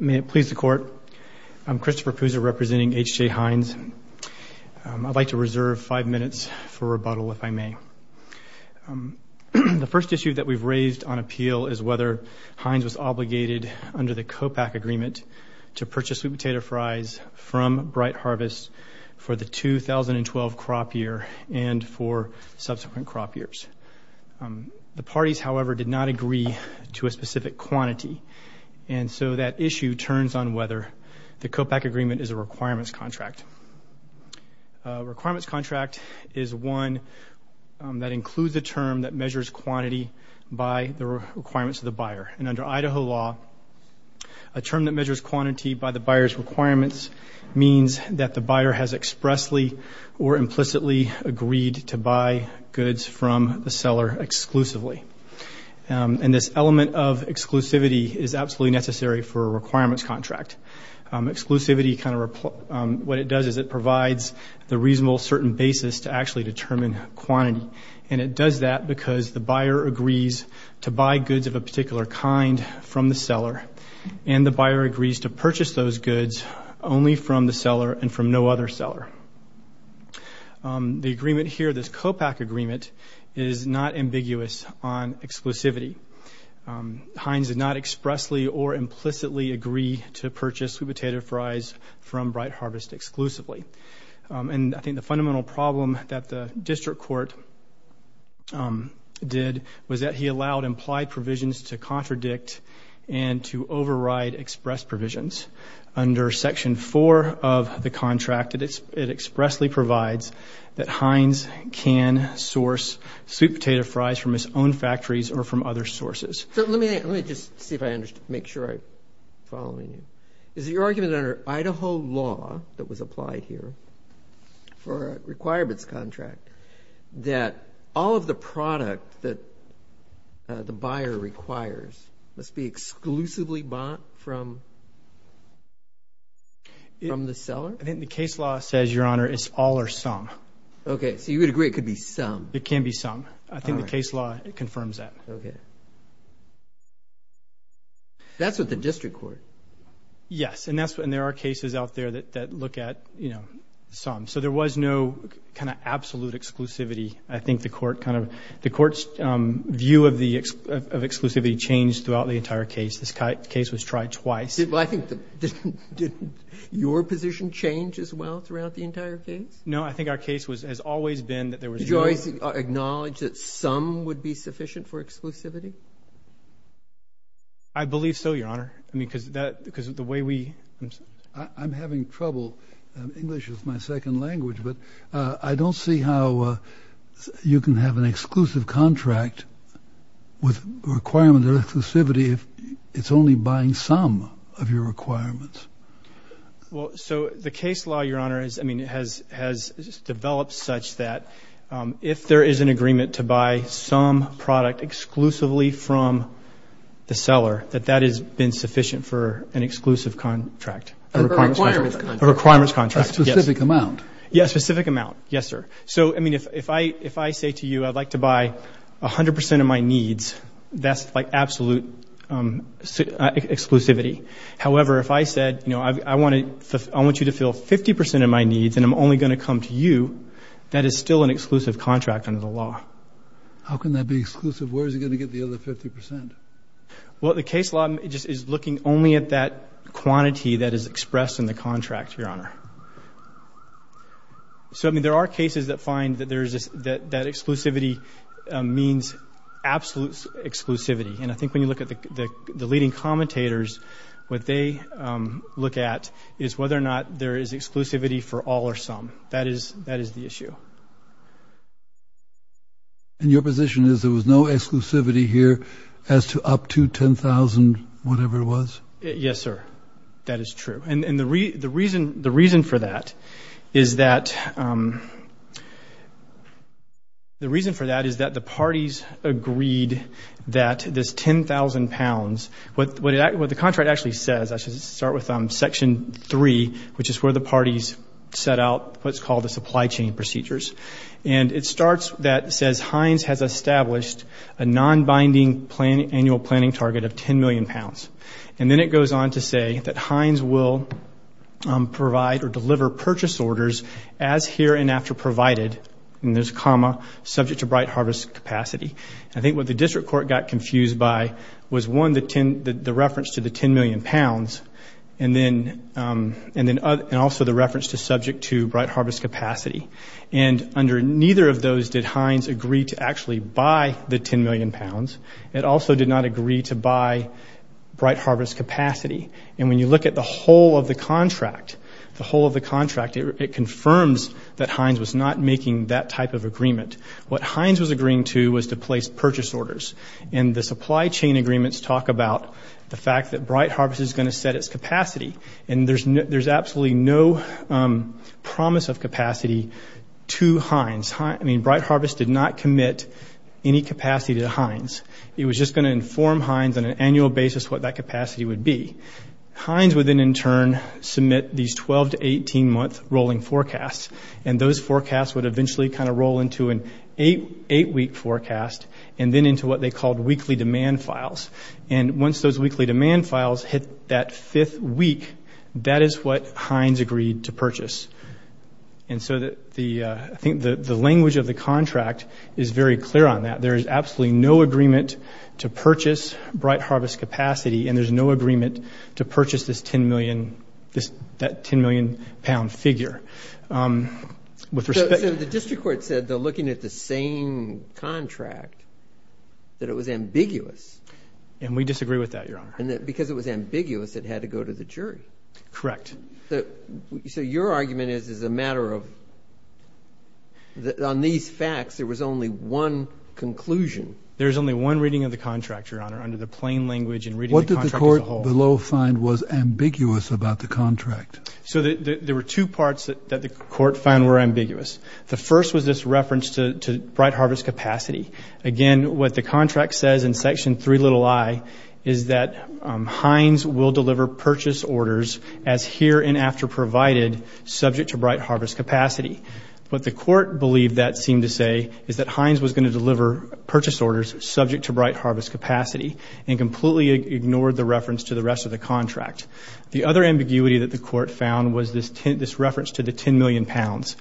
May it please the Court, I'm Christopher Pousa representing H.J. Heinz. I'd like to reserve five minutes for rebuttal, if I may. The first issue that we've raised on appeal is whether Heinz was obligated, under the COPAC agreement, to purchase sweet potato fries from Bright Harvest for the 2012 crop year and for subsequent crop years. The parties, however, did not agree to a specific quantity. And so that issue turns on whether the COPAC agreement is a requirements contract. A requirements contract is one that includes a term that measures quantity by the requirements of the buyer. And under Idaho law, a term that measures quantity by the buyer's requirements means that the buyer has expressly or implicitly agreed to buy goods from the seller exclusively. And this element of exclusivity is absolutely necessary for a requirements contract. Exclusivity kind of what it does is it provides the reasonable certain basis to actually determine quantity. And it does that because the buyer agrees to buy goods of a particular kind from the seller, and the buyer agrees to purchase those goods only from the seller and from no other seller. The agreement here, this COPAC agreement, is not ambiguous on exclusivity. Heinz did not expressly or implicitly agree to purchase sweet potato fries from Bright Harvest exclusively. And I think the fundamental problem that the district court did was that he allowed implied provisions to contradict and to override express provisions. Under Section 4 of the contract, it expressly provides that Heinz can source sweet potato fries from his own factories or from other sources. So let me just see if I make sure I'm following you. Is it your argument that under Idaho law that was applied here for a requirements contract that all of the product that the buyer requires must be exclusively bought from the seller? I think the case law says, Your Honor, it's all or some. Okay, so you would agree it could be some. It can be some. I think the case law confirms that. Okay. That's with the district court. Yes, and there are cases out there that look at, you know, some. So there was no kind of absolute exclusivity. I think the court kind of the court's view of the exclusivity changed throughout the entire case. This case was tried twice. Did your position change as well throughout the entire case? No. I think our case has always been that there was no. Did Joyce acknowledge that some would be sufficient for exclusivity? I believe so, Your Honor. I mean, because the way we. I'm having trouble. English is my second language. But I don't see how you can have an exclusive contract with requirements of exclusivity if it's only buying some of your requirements. Well, so the case law, Your Honor, has developed such that if there is an agreement to buy some product exclusively from the seller, that that has been sufficient for an exclusive contract. A requirements contract. A requirements contract. A specific amount. Yes, a specific amount. Yes, sir. So, I mean, if I say to you I'd like to buy 100 percent of my needs, that's like absolute exclusivity. However, if I said, you know, I want you to fill 50 percent of my needs and I'm only going to come to you, that is still an exclusive contract under the law. How can that be exclusive? Where is he going to get the other 50 percent? Well, the case law is looking only at that quantity that is expressed in the contract, Your Honor. So, I mean, there are cases that find that that exclusivity means absolute exclusivity. And I think when you look at the leading commentators, what they look at is whether or not there is exclusivity for all or some. That is the issue. And your position is there was no exclusivity here as to up to 10,000 whatever it was? Yes, sir. That is true. And the reason for that is that the parties agreed that this 10,000 pounds, what the contract actually says, I should start with Section 3, which is where the parties set out what's called the supply chain procedures. And it starts that says, Heinz has established a non-binding annual planning target of 10 million pounds. And then it goes on to say that Heinz will provide or deliver purchase orders as here and after provided, and there's a comma, subject to Bright Harvest capacity. I think what the district court got confused by was, one, the reference to the 10 million pounds, and then also the reference to subject to Bright Harvest capacity. And under neither of those did Heinz agree to actually buy the 10 million pounds. It also did not agree to buy Bright Harvest capacity. And when you look at the whole of the contract, the whole of the contract, it confirms that Heinz was not making that type of agreement. What Heinz was agreeing to was to place purchase orders. And the supply chain agreements talk about the fact that Bright Harvest is going to set its capacity, and there's absolutely no promise of capacity to Heinz. I mean, Bright Harvest did not commit any capacity to Heinz. It was just going to inform Heinz on an annual basis what that capacity would be. Heinz would then, in turn, submit these 12- to 18-month rolling forecasts, and those forecasts would eventually kind of roll into an eight-week forecast and then into what they called weekly demand files. And once those weekly demand files hit that fifth week, that is what Heinz agreed to purchase. And so I think the language of the contract is very clear on that. There is absolutely no agreement to purchase Bright Harvest capacity, and there's no agreement to purchase this 10 million, that 10 million pound figure. So the district court said, though, looking at the same contract, that it was ambiguous. And we disagree with that, Your Honor. Because it was ambiguous, it had to go to the jury. Correct. So your argument is it's a matter of on these facts there was only one conclusion. There's only one reading of the contract, Your Honor, under the plain language and reading the contract as a whole. What did the court below find was ambiguous about the contract? So there were two parts that the court found were ambiguous. The first was this reference to Bright Harvest capacity. Again, what the contract says in Section 3, little i, is that Heinz will deliver purchase orders as here and after provided subject to Bright Harvest capacity. What the court believed that seemed to say is that Heinz was going to deliver purchase orders subject to Bright Harvest capacity and completely ignored the reference to the rest of the contract. The other ambiguity that the court found was this reference to the 10 million pounds.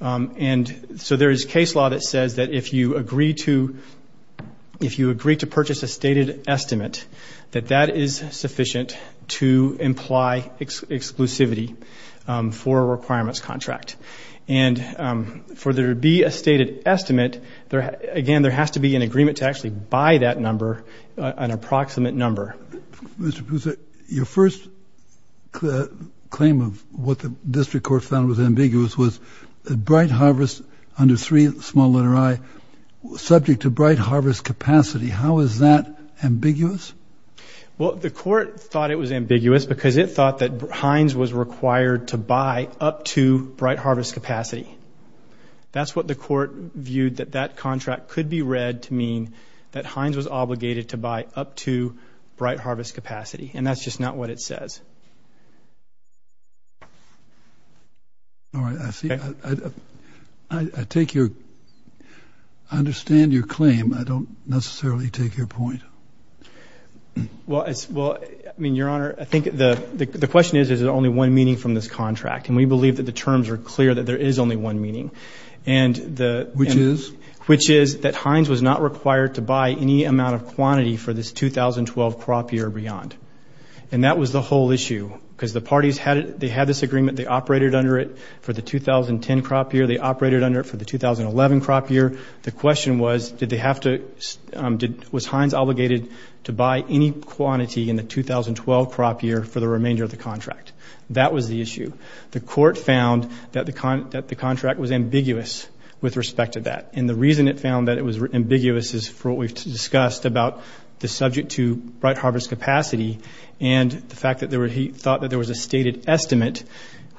And so there is case law that says that if you agree to purchase a stated estimate, that that is sufficient to imply exclusivity for a requirements contract. And for there to be a stated estimate, again, there has to be an agreement to actually buy that number, an approximate number. Mr. Poussa, your first claim of what the district court found was ambiguous was that Bright Harvest under 3, small i, subject to Bright Harvest capacity. How is that ambiguous? Well, the court thought it was ambiguous because it thought that Heinz was required to buy up to Bright Harvest capacity. That's what the court viewed that that contract could be read to mean that Heinz was obligated to buy up to Bright Harvest capacity. And that's just not what it says. All right. I see. I take your, I understand your claim. I don't necessarily take your point. Well, it's, well, I mean, Your Honor, I think the question is, is there only one meaning from this contract? And we believe that the terms are clear that there is only one meaning. Which is? Which is that Heinz was not required to buy any amount of quantity for this 2012 crop year or beyond. And that was the whole issue. Because the parties had this agreement. They operated under it for the 2010 crop year. They operated under it for the 2011 crop year. The question was, did they have to, was Heinz obligated to buy any quantity in the 2012 crop year for the remainder of the contract? That was the issue. The court found that the contract was ambiguous with respect to that. And the reason it found that it was ambiguous is for what we've discussed about the subject to bright harvest capacity and the fact that they thought that there was a stated estimate,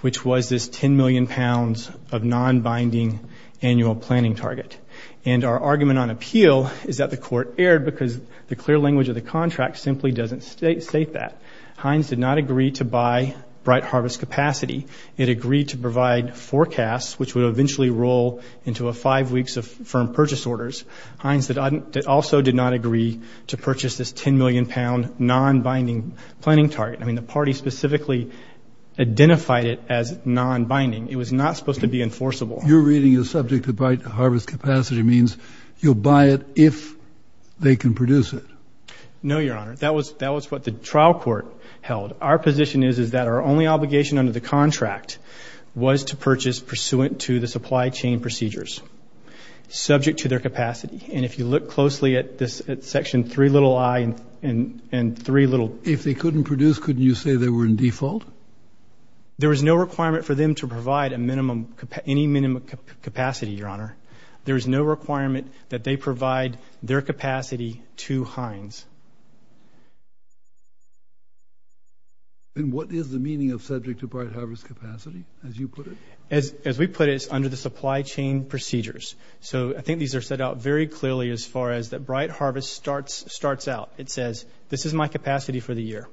which was this 10 million pounds of non-binding annual planning target. And our argument on appeal is that the court erred because the clear language of the contract simply doesn't state that. Heinz did not agree to buy bright harvest capacity. It agreed to provide forecasts, which would eventually roll into five weeks of firm purchase orders. Heinz also did not agree to purchase this 10 million pound non-binding planning target. I mean, the party specifically identified it as non-binding. It was not supposed to be enforceable. You're reading a subject to bright harvest capacity means you'll buy it if they can produce it. No, Your Honor. That was what the trial court held. Our position is, is that our only obligation under the contract was to purchase pursuant to the supply chain procedures, subject to their capacity. And if you look closely at this section 3 little i and 3 little. If they couldn't produce, couldn't you say they were in default? There was no requirement for them to provide a minimum, any minimum capacity, Your Honor. There is no requirement that they provide their capacity to Heinz. And what is the meaning of subject to bright harvest capacity, as you put it? As we put it, it's under the supply chain procedures. So I think these are set out very clearly as far as that bright harvest starts out. It says, this is my capacity for the year.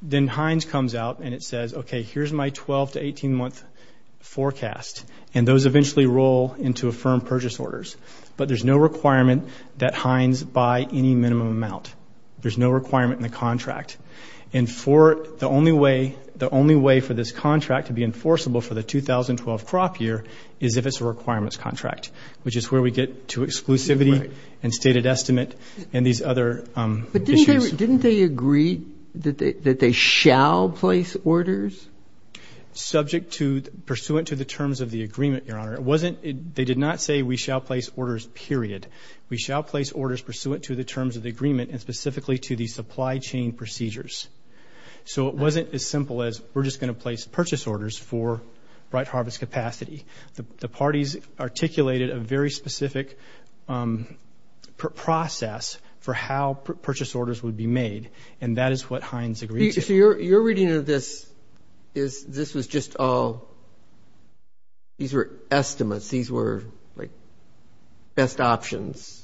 Then Heinz comes out and it says, okay, here's my 12 to 18 month forecast. And those eventually roll into a firm purchase orders. But there's no requirement that Heinz buy any minimum amount. There's no requirement in the contract. And for the only way, the only way for this contract to be enforceable for the 2012 crop year is if it's a requirements contract, which is where we get to exclusivity and stated estimate and these other issues. But didn't they agree that they shall place orders? Subject to, pursuant to the terms of the agreement, Your Honor. It wasn't, they did not say we shall place orders, period. We shall place orders pursuant to the terms of the agreement and specifically to the supply chain procedures. So it wasn't as simple as we're just going to place purchase orders for bright harvest capacity. The parties articulated a very specific process for how purchase orders would be made. And that is what Heinz agreed to. Your reading of this is this was just all, these were estimates. These were, like, best options.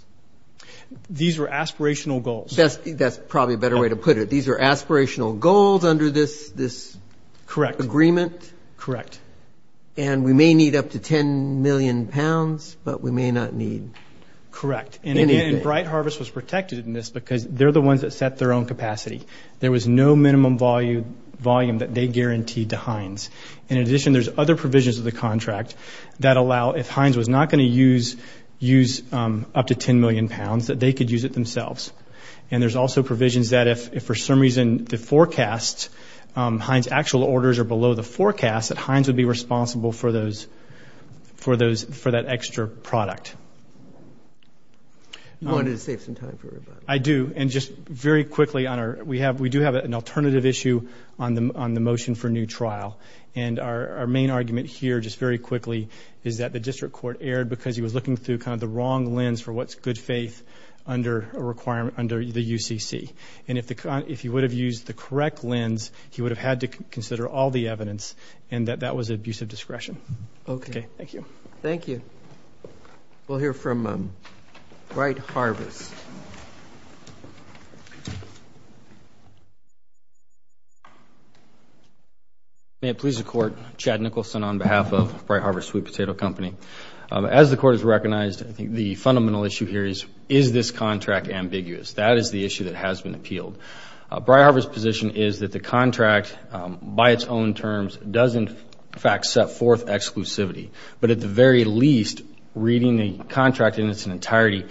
These were aspirational goals. That's probably a better way to put it. These are aspirational goals under this agreement. Correct. And we may need up to 10 million pounds, but we may not need anything. Correct. And, again, bright harvest was protected in this because they're the ones that set their own capacity. There was no minimum volume that they guaranteed to Heinz. In addition, there's other provisions of the contract that allow, if Heinz was not going to use up to 10 million pounds, that they could use it themselves. And there's also provisions that if, for some reason, the forecast, Heinz actual orders are below the forecast, that Heinz would be responsible for those, for that extra product. You wanted to save some time for everybody. I do. And just very quickly, we do have an alternative issue on the motion for new trial. And our main argument here, just very quickly, is that the district court erred because he was looking through kind of the wrong lens for what's good faith under a requirement under the UCC. And if he would have used the correct lens, he would have had to consider all the evidence, and that that was abusive discretion. Okay. Thank you. Thank you. We'll hear from Bright Harvest. May it please the Court, Chad Nicholson on behalf of Bright Harvest Sweet Potato Company. As the Court has recognized, I think the fundamental issue here is, is this contract ambiguous? That is the issue that has been appealed. Bright Harvest's position is that the contract, by its own terms, does, in fact, set forth exclusivity. But at the very least, reading the contract in its entirety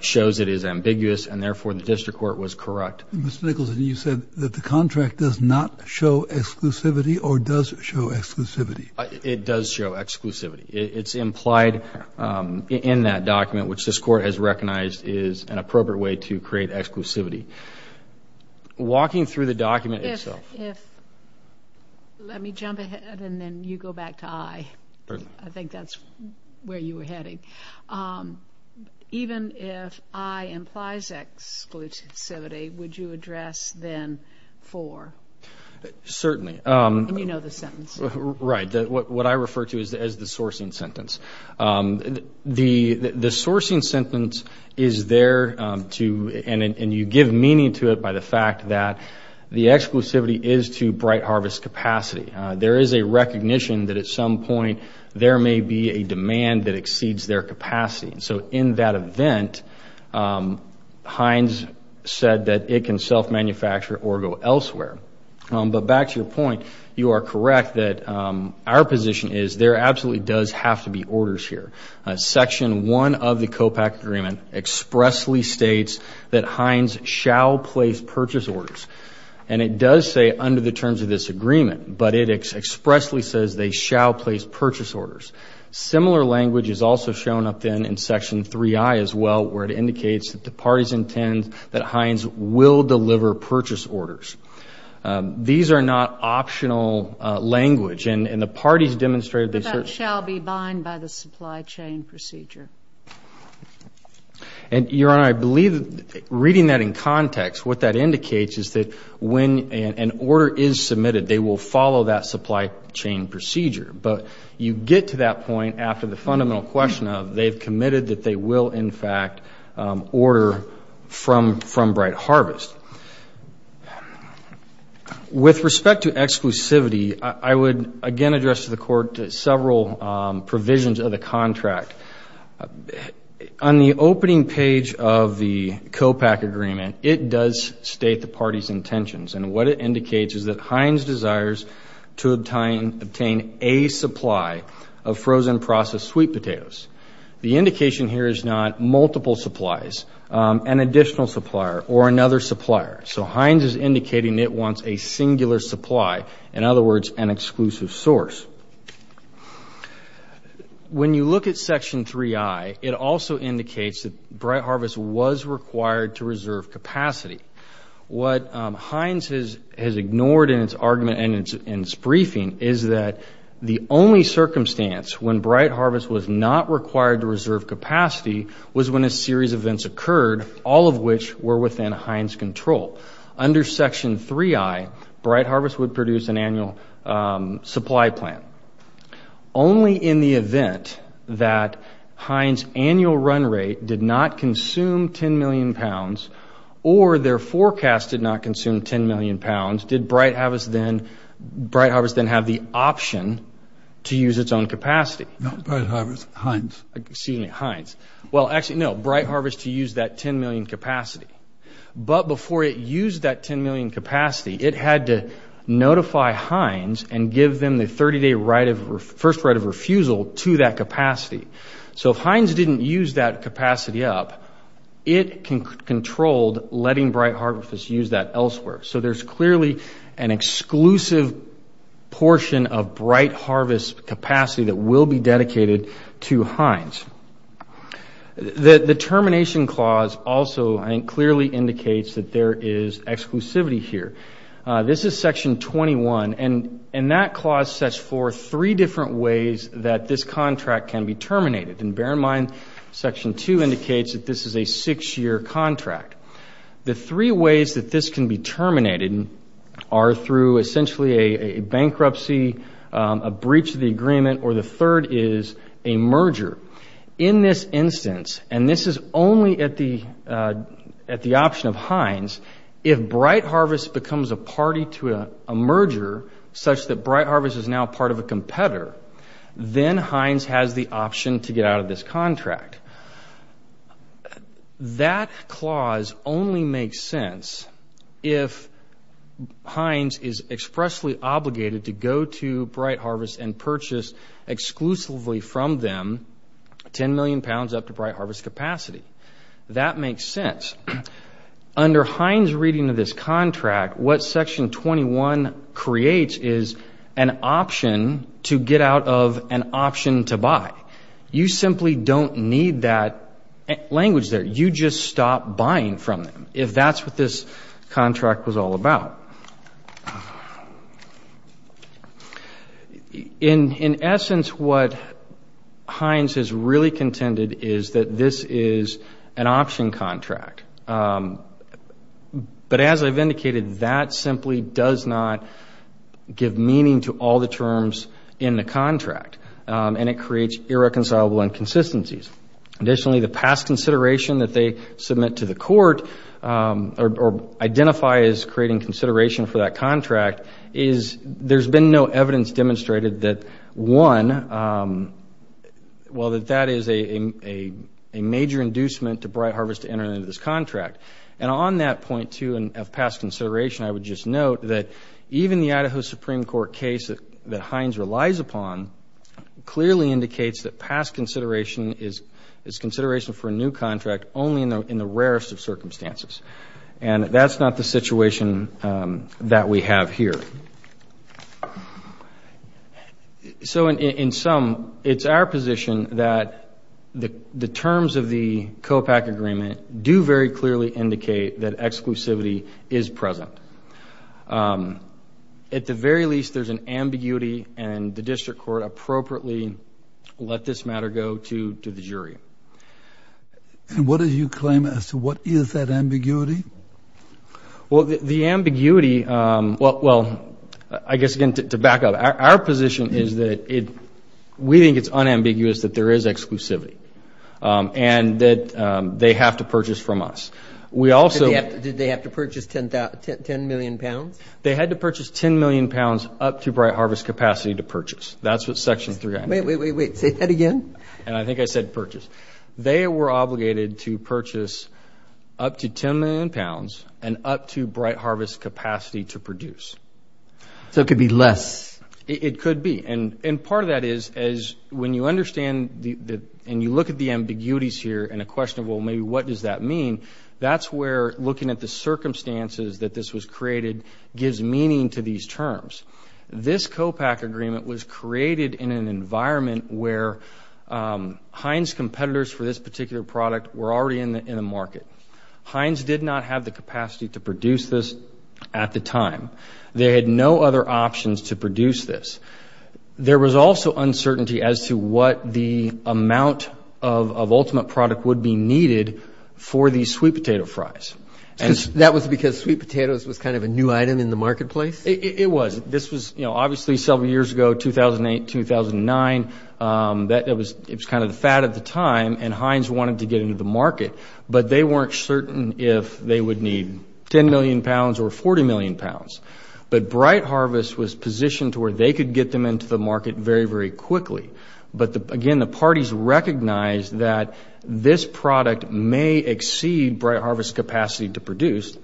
shows it is ambiguous, and therefore the district court was correct. Mr. Nicholson, you said that the contract does not show exclusivity or does show exclusivity? It does show exclusivity. It's implied in that document, which this Court has recognized is an appropriate way to create exclusivity. Walking through the document itself. Let me jump ahead and then you go back to I. I think that's where you were heading. Even if I implies exclusivity, would you address then for? Certainly. And you know the sentence. Right. What I refer to as the sourcing sentence. The sourcing sentence is there to, and you give meaning to it by the fact that the exclusivity is to Bright Harvest's capacity. There is a recognition that at some point there may be a demand that exceeds their capacity. So in that event, Hines said that it can self-manufacture or go elsewhere. But back to your point, you are correct that our position is there absolutely does have to be orders here. Section 1 of the COPAC agreement expressly states that Hines shall place purchase orders. And it does say under the terms of this agreement, but it expressly says they shall place purchase orders. Similar language is also shown up then in Section 3I as well, where it indicates that the parties intend that Hines will deliver purchase orders. These are not optional language. And the parties demonstrated this. But that shall be bind by the supply chain procedure. And, Your Honor, I believe reading that in context, what that indicates is that when an order is submitted, they will follow that supply chain procedure. But you get to that point after the fundamental question of they've committed that they will, in fact, order from Bright Harvest. With respect to exclusivity, I would again address to the Court several provisions of the contract. On the opening page of the COPAC agreement, it does state the parties' intentions. And what it indicates is that Hines desires to obtain a supply of frozen processed sweet potatoes. The indication here is not multiple supplies, an additional supplier, or another supplier. So Hines is indicating it wants a singular supply, in other words, an exclusive source. When you look at Section 3I, it also indicates that Bright Harvest was required to reserve capacity. What Hines has ignored in its argument and its briefing is that the only circumstance when Bright Harvest was not required to reserve capacity was when a series of events occurred, all of which were within Hines' control. Under Section 3I, Bright Harvest would produce an annual supply plan. Only in the event that Hines' annual run rate did not consume 10 million pounds, or their forecast did not consume 10 million pounds, did Bright Harvest then have the option to use its own capacity. Not Bright Harvest, Hines. Excuse me, Hines. Well, actually, no, Bright Harvest used that 10 million capacity. But before it used that 10 million capacity, it had to notify Hines and give them the 30-day first right of refusal to that capacity. So if Hines didn't use that capacity up, it controlled letting Bright Harvest use that elsewhere. So there's clearly an exclusive portion of Bright Harvest's capacity that will be dedicated to Hines. The termination clause also clearly indicates that there is exclusivity here. This is Section 21, and that clause sets forth three different ways that this contract can be terminated. And bear in mind, Section 2 indicates that this is a six-year contract. The three ways that this can be terminated are through essentially a bankruptcy, a breach of the agreement, or the third is a merger. In this instance, and this is only at the option of Hines, if Bright Harvest becomes a party to a merger such that Bright Harvest is now part of a competitor, then Hines has the option to get out of this contract. That clause only makes sense if Hines is expressly obligated to go to Bright Harvest and purchase exclusively from them 10 million pounds up to Bright Harvest's capacity. That makes sense. Under Hines' reading of this contract, what Section 21 creates is an option to get out of an option to buy. You simply don't need that language there. You just stop buying from them, if that's what this contract was all about. In essence, what Hines has really contended is that this is an option contract. But as I've indicated, that simply does not give meaning to all the terms in the contract, and it creates irreconcilable inconsistencies. Additionally, the past consideration that they submit to the court or identify as creating consideration for that contract is there's been no evidence demonstrated that, one, well, that that is a major inducement to Bright Harvest entering into this contract. And on that point, too, of past consideration, I would just note that even the Idaho Supreme Court case that Hines relies upon clearly indicates that past consideration is consideration for a new contract only in the rarest of circumstances. And that's not the situation that we have here. So in sum, it's our position that the terms of the COPAC agreement do very clearly indicate that exclusivity is present. At the very least, there's an ambiguity, and the district court appropriately let this matter go to the jury. And what do you claim as to what is that ambiguity? Well, the ambiguity, well, I guess, again, to back up, our position is that we think it's unambiguous that there is exclusivity and that they have to purchase from us. Did they have to purchase 10 million pounds? They had to purchase 10 million pounds up to Bright Harvest's capacity to purchase. That's what Section 3. Wait, wait, wait. Say that again. And I think I said purchase. They were obligated to purchase up to 10 million pounds and up to Bright Harvest's capacity to produce. So it could be less. It could be. And part of that is when you understand and you look at the ambiguities here and a question of, well, maybe what does that mean, that's where looking at the circumstances that this was created gives meaning to these terms. This COPAC agreement was created in an environment where Heinz competitors for this particular product were already in the market. Heinz did not have the capacity to produce this at the time. They had no other options to produce this. There was also uncertainty as to what the amount of ultimate product would be needed for these sweet potato fries. That was because sweet potatoes was kind of a new item in the marketplace? It was. This was, you know, obviously several years ago, 2008, 2009. It was kind of the fad at the time, and Heinz wanted to get into the market, but they weren't certain if they would need 10 million pounds or 40 million pounds. But Bright Harvest was positioned to where they could get them into the market very, very quickly. But, again, the parties recognized that this product may exceed Bright Harvest's capacity to produce,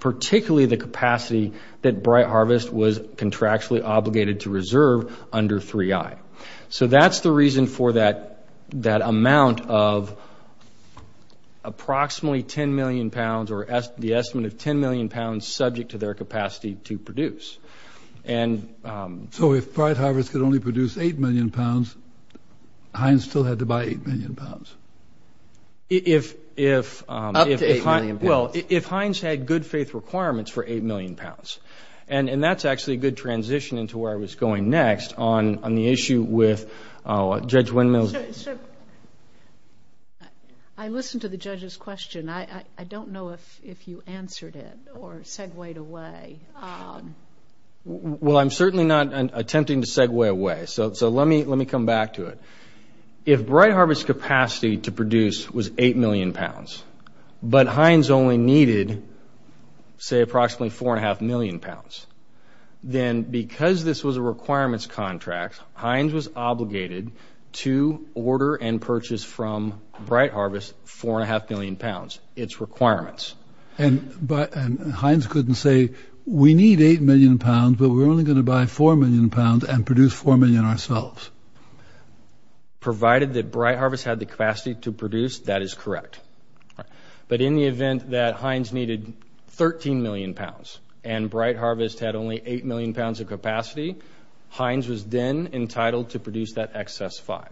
particularly the capacity that Bright Harvest was contractually obligated to reserve under 3I. So that's the reason for that amount of approximately 10 million pounds or the estimate of 10 million pounds subject to their capacity to produce. So if Bright Harvest could only produce 8 million pounds, Heinz still had to buy 8 million pounds? Up to 8 million pounds. Well, if Heinz had good faith requirements for 8 million pounds, and that's actually a good transition into where I was going next on the issue with Judge Windmill's. I listened to the judge's question. I don't know if you answered it or segued away. Well, I'm certainly not attempting to segue away, so let me come back to it. If Bright Harvest's capacity to produce was 8 million pounds, but Heinz only needed, say, approximately 4.5 million pounds, then because this was a requirements contract, Heinz was obligated to order and purchase from Bright Harvest 4.5 million pounds, its requirements. And Heinz couldn't say, we need 8 million pounds, but we're only going to buy 4 million pounds and produce 4 million ourselves. Provided that Bright Harvest had the capacity to produce, that is correct. But in the event that Heinz needed 13 million pounds and Bright Harvest had only 8 million pounds of capacity, Heinz was then entitled to produce that excess 5.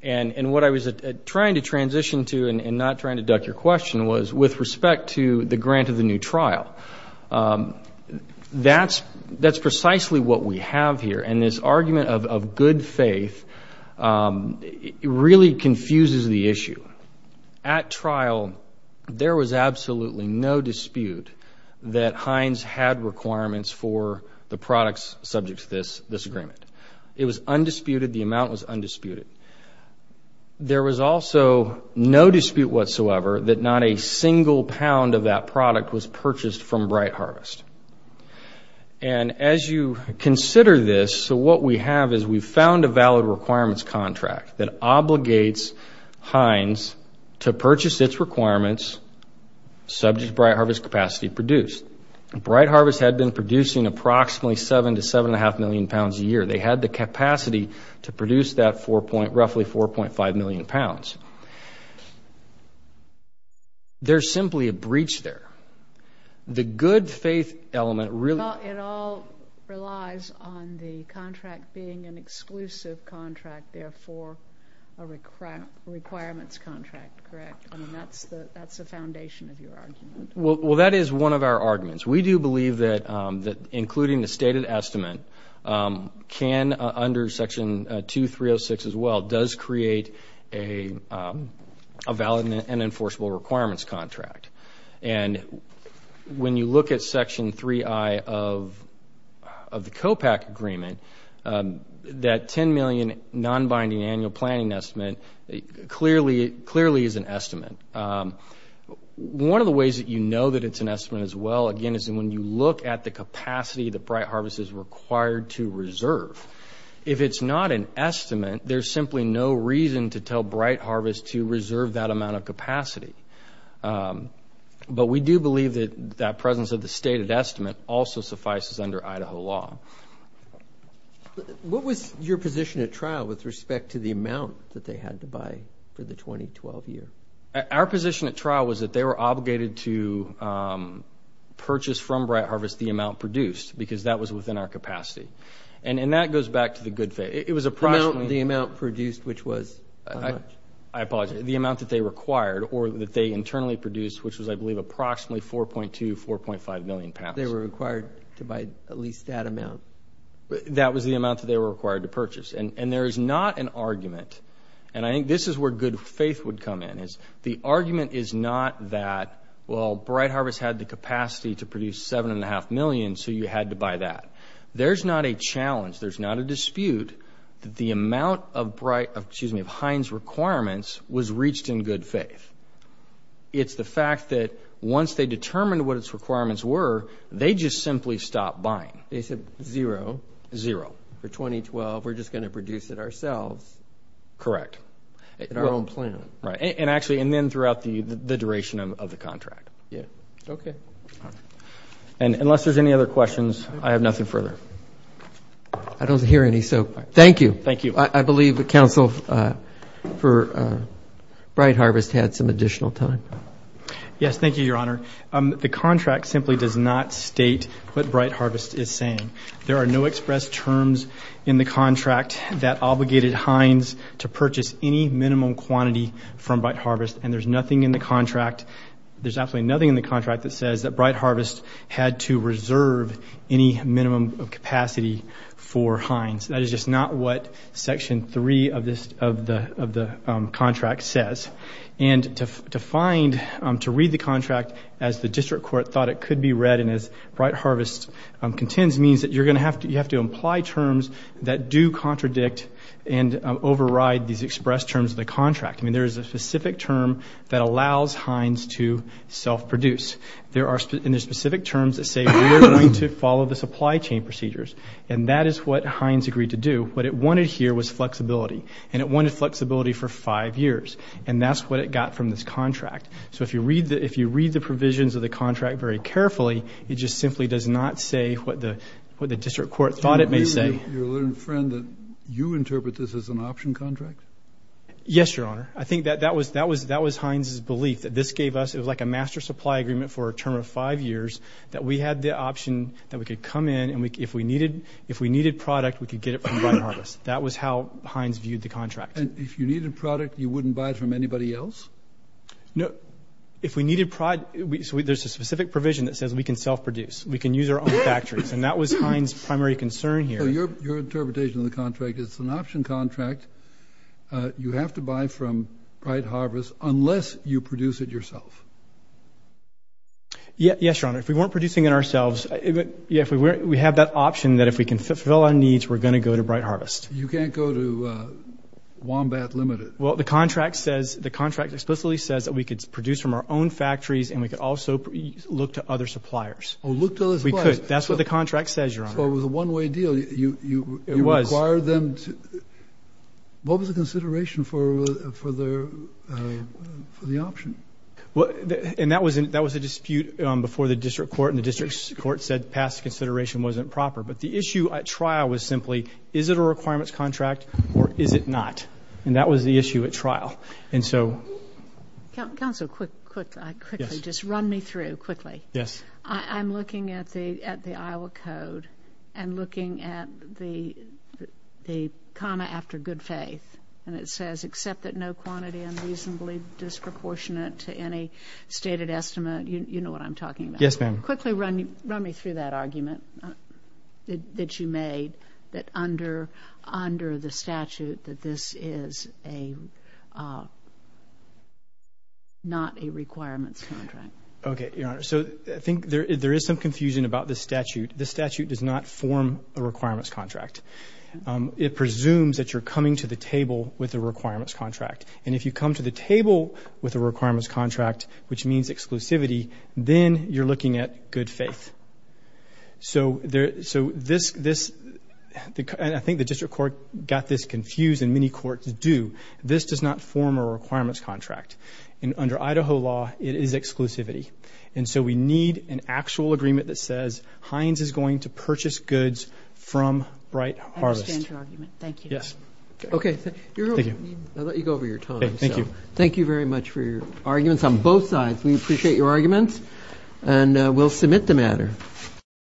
And what I was trying to transition to and not trying to duck your question was with respect to the grant of the new trial. That's precisely what we have here. And this argument of good faith really confuses the issue. At trial, there was absolutely no dispute that Heinz had requirements for the products subject to this agreement. It was undisputed. The amount was undisputed. There was also no dispute whatsoever that not a single pound of that product was purchased from Bright Harvest. And as you consider this, so what we have is we've found a valid requirements contract that obligates Heinz to purchase its requirements subject to Bright Harvest's capacity to produce. Bright Harvest had been producing approximately 7 to 7.5 million pounds a year. They had the capacity to produce that roughly 4.5 million pounds. There's simply a breach there. The good faith element really- Well, it all relies on the contract being an exclusive contract, therefore a requirements contract, correct? I mean, that's the foundation of your argument. Well, that is one of our arguments. We do believe that including the stated estimate can, under Section 2306 as well, does create a valid and enforceable requirements contract. And when you look at Section 3i of the COPAC agreement, that $10 million non-binding annual planning estimate clearly is an estimate. One of the ways that you know that it's an estimate as well, again, is when you look at the capacity that Bright Harvest is required to reserve. If it's not an estimate, there's simply no reason to tell Bright Harvest to reserve that amount of capacity. But we do believe that that presence of the stated estimate also suffices under Idaho law. What was your position at trial with respect to the amount that they had to buy for the 2012 year? Our position at trial was that they were obligated to purchase from Bright Harvest the amount produced because that was within our capacity. And that goes back to the good faith. It was approximately- The amount produced, which was how much? I apologize. The amount that they required or that they internally produced, which was, I believe, approximately 4.2, 4.5 million pounds. They were required to buy at least that amount. That was the amount that they were required to purchase. And there is not an argument, and I think this is where good faith would come in. The argument is not that, well, Bright Harvest had the capacity to produce 7.5 million, so you had to buy that. There's not a challenge, there's not a dispute that the amount of Heinz requirements was reached in good faith. It's the fact that once they determined what its requirements were, they just simply stopped buying. They said zero. Zero. For 2012, we're just going to produce it ourselves. Correct. In our own plan. Right. And actually, and then throughout the duration of the contract. Okay. And unless there's any other questions, I have nothing further. I don't hear any, so thank you. Thank you. I believe that counsel for Bright Harvest had some additional time. Yes, thank you, Your Honor. The contract simply does not state what Bright Harvest is saying. There are no express terms in the contract that obligated Heinz to purchase any minimum quantity from Bright Harvest, and there's nothing in the contract, there's absolutely nothing in the contract that says that Bright Harvest had to reserve any minimum capacity for Heinz. That is just not what Section 3 of the contract says. And to find, to read the contract as the district court thought it could be read and as Bright Harvest contends means that you're going to have to imply terms that do contradict and override these express terms of the contract. I mean, there is a specific term that allows Heinz to self-produce. There are specific terms that say we're going to follow the supply chain procedures, and that is what Heinz agreed to do. What it wanted here was flexibility, and it wanted flexibility for five years, and that's what it got from this contract. So if you read the provisions of the contract very carefully, it just simply does not say what the district court thought it may say. Do you agree with your friend that you interpret this as an option contract? Yes, Your Honor. I think that was Heinz's belief, that this gave us, it was like a master supply agreement for a term of five years, that we had the option that we could come in and if we needed product, we could get it from Bright Harvest. That was how Heinz viewed the contract. And if you needed product, you wouldn't buy it from anybody else? No. If we needed product, there's a specific provision that says we can self-produce. We can use our own factories. And that was Heinz's primary concern here. So your interpretation of the contract is it's an option contract. You have to buy from Bright Harvest unless you produce it yourself. Yes, Your Honor. If we weren't producing it ourselves, we have that option that if we can fulfill our needs, we're going to go to Bright Harvest. You can't go to Wombat Limited. Well, the contract says, the contract explicitly says that we could produce from our own factories and we could also look to other suppliers. Oh, look to other suppliers. We could. That's what the contract says, Your Honor. So it was a one-way deal. It was. You required them to, what was the consideration for the option? And that was a dispute before the district court, and the district court said past consideration wasn't proper. But the issue at trial was simply, is it a requirements contract or is it not? And that was the issue at trial. And so. Counsel, quickly, just run me through quickly. Yes. I'm looking at the Iowa Code and looking at the comma after good faith. And it says, except that no quantity unreasonably disproportionate to any stated estimate. You know what I'm talking about. Yes, ma'am. Quickly run me through that argument that you made, that under the statute that this is not a requirements contract. Okay, Your Honor. So I think there is some confusion about the statute. The statute does not form a requirements contract. It presumes that you're coming to the table with a requirements contract. And if you come to the table with a requirements contract, which means exclusivity, then you're looking at good faith. So I think the district court got this confused, and many courts do. This does not form a requirements contract. And under Idaho law, it is exclusivity. And so we need an actual agreement that says, Hines is going to purchase goods from Bright Harvest. I understand your argument. Thank you. Yes. Okay. Thank you. I'll let you go over your time. Thank you. Thank you very much for your arguments on both sides. We appreciate your arguments, and we'll submit the matter.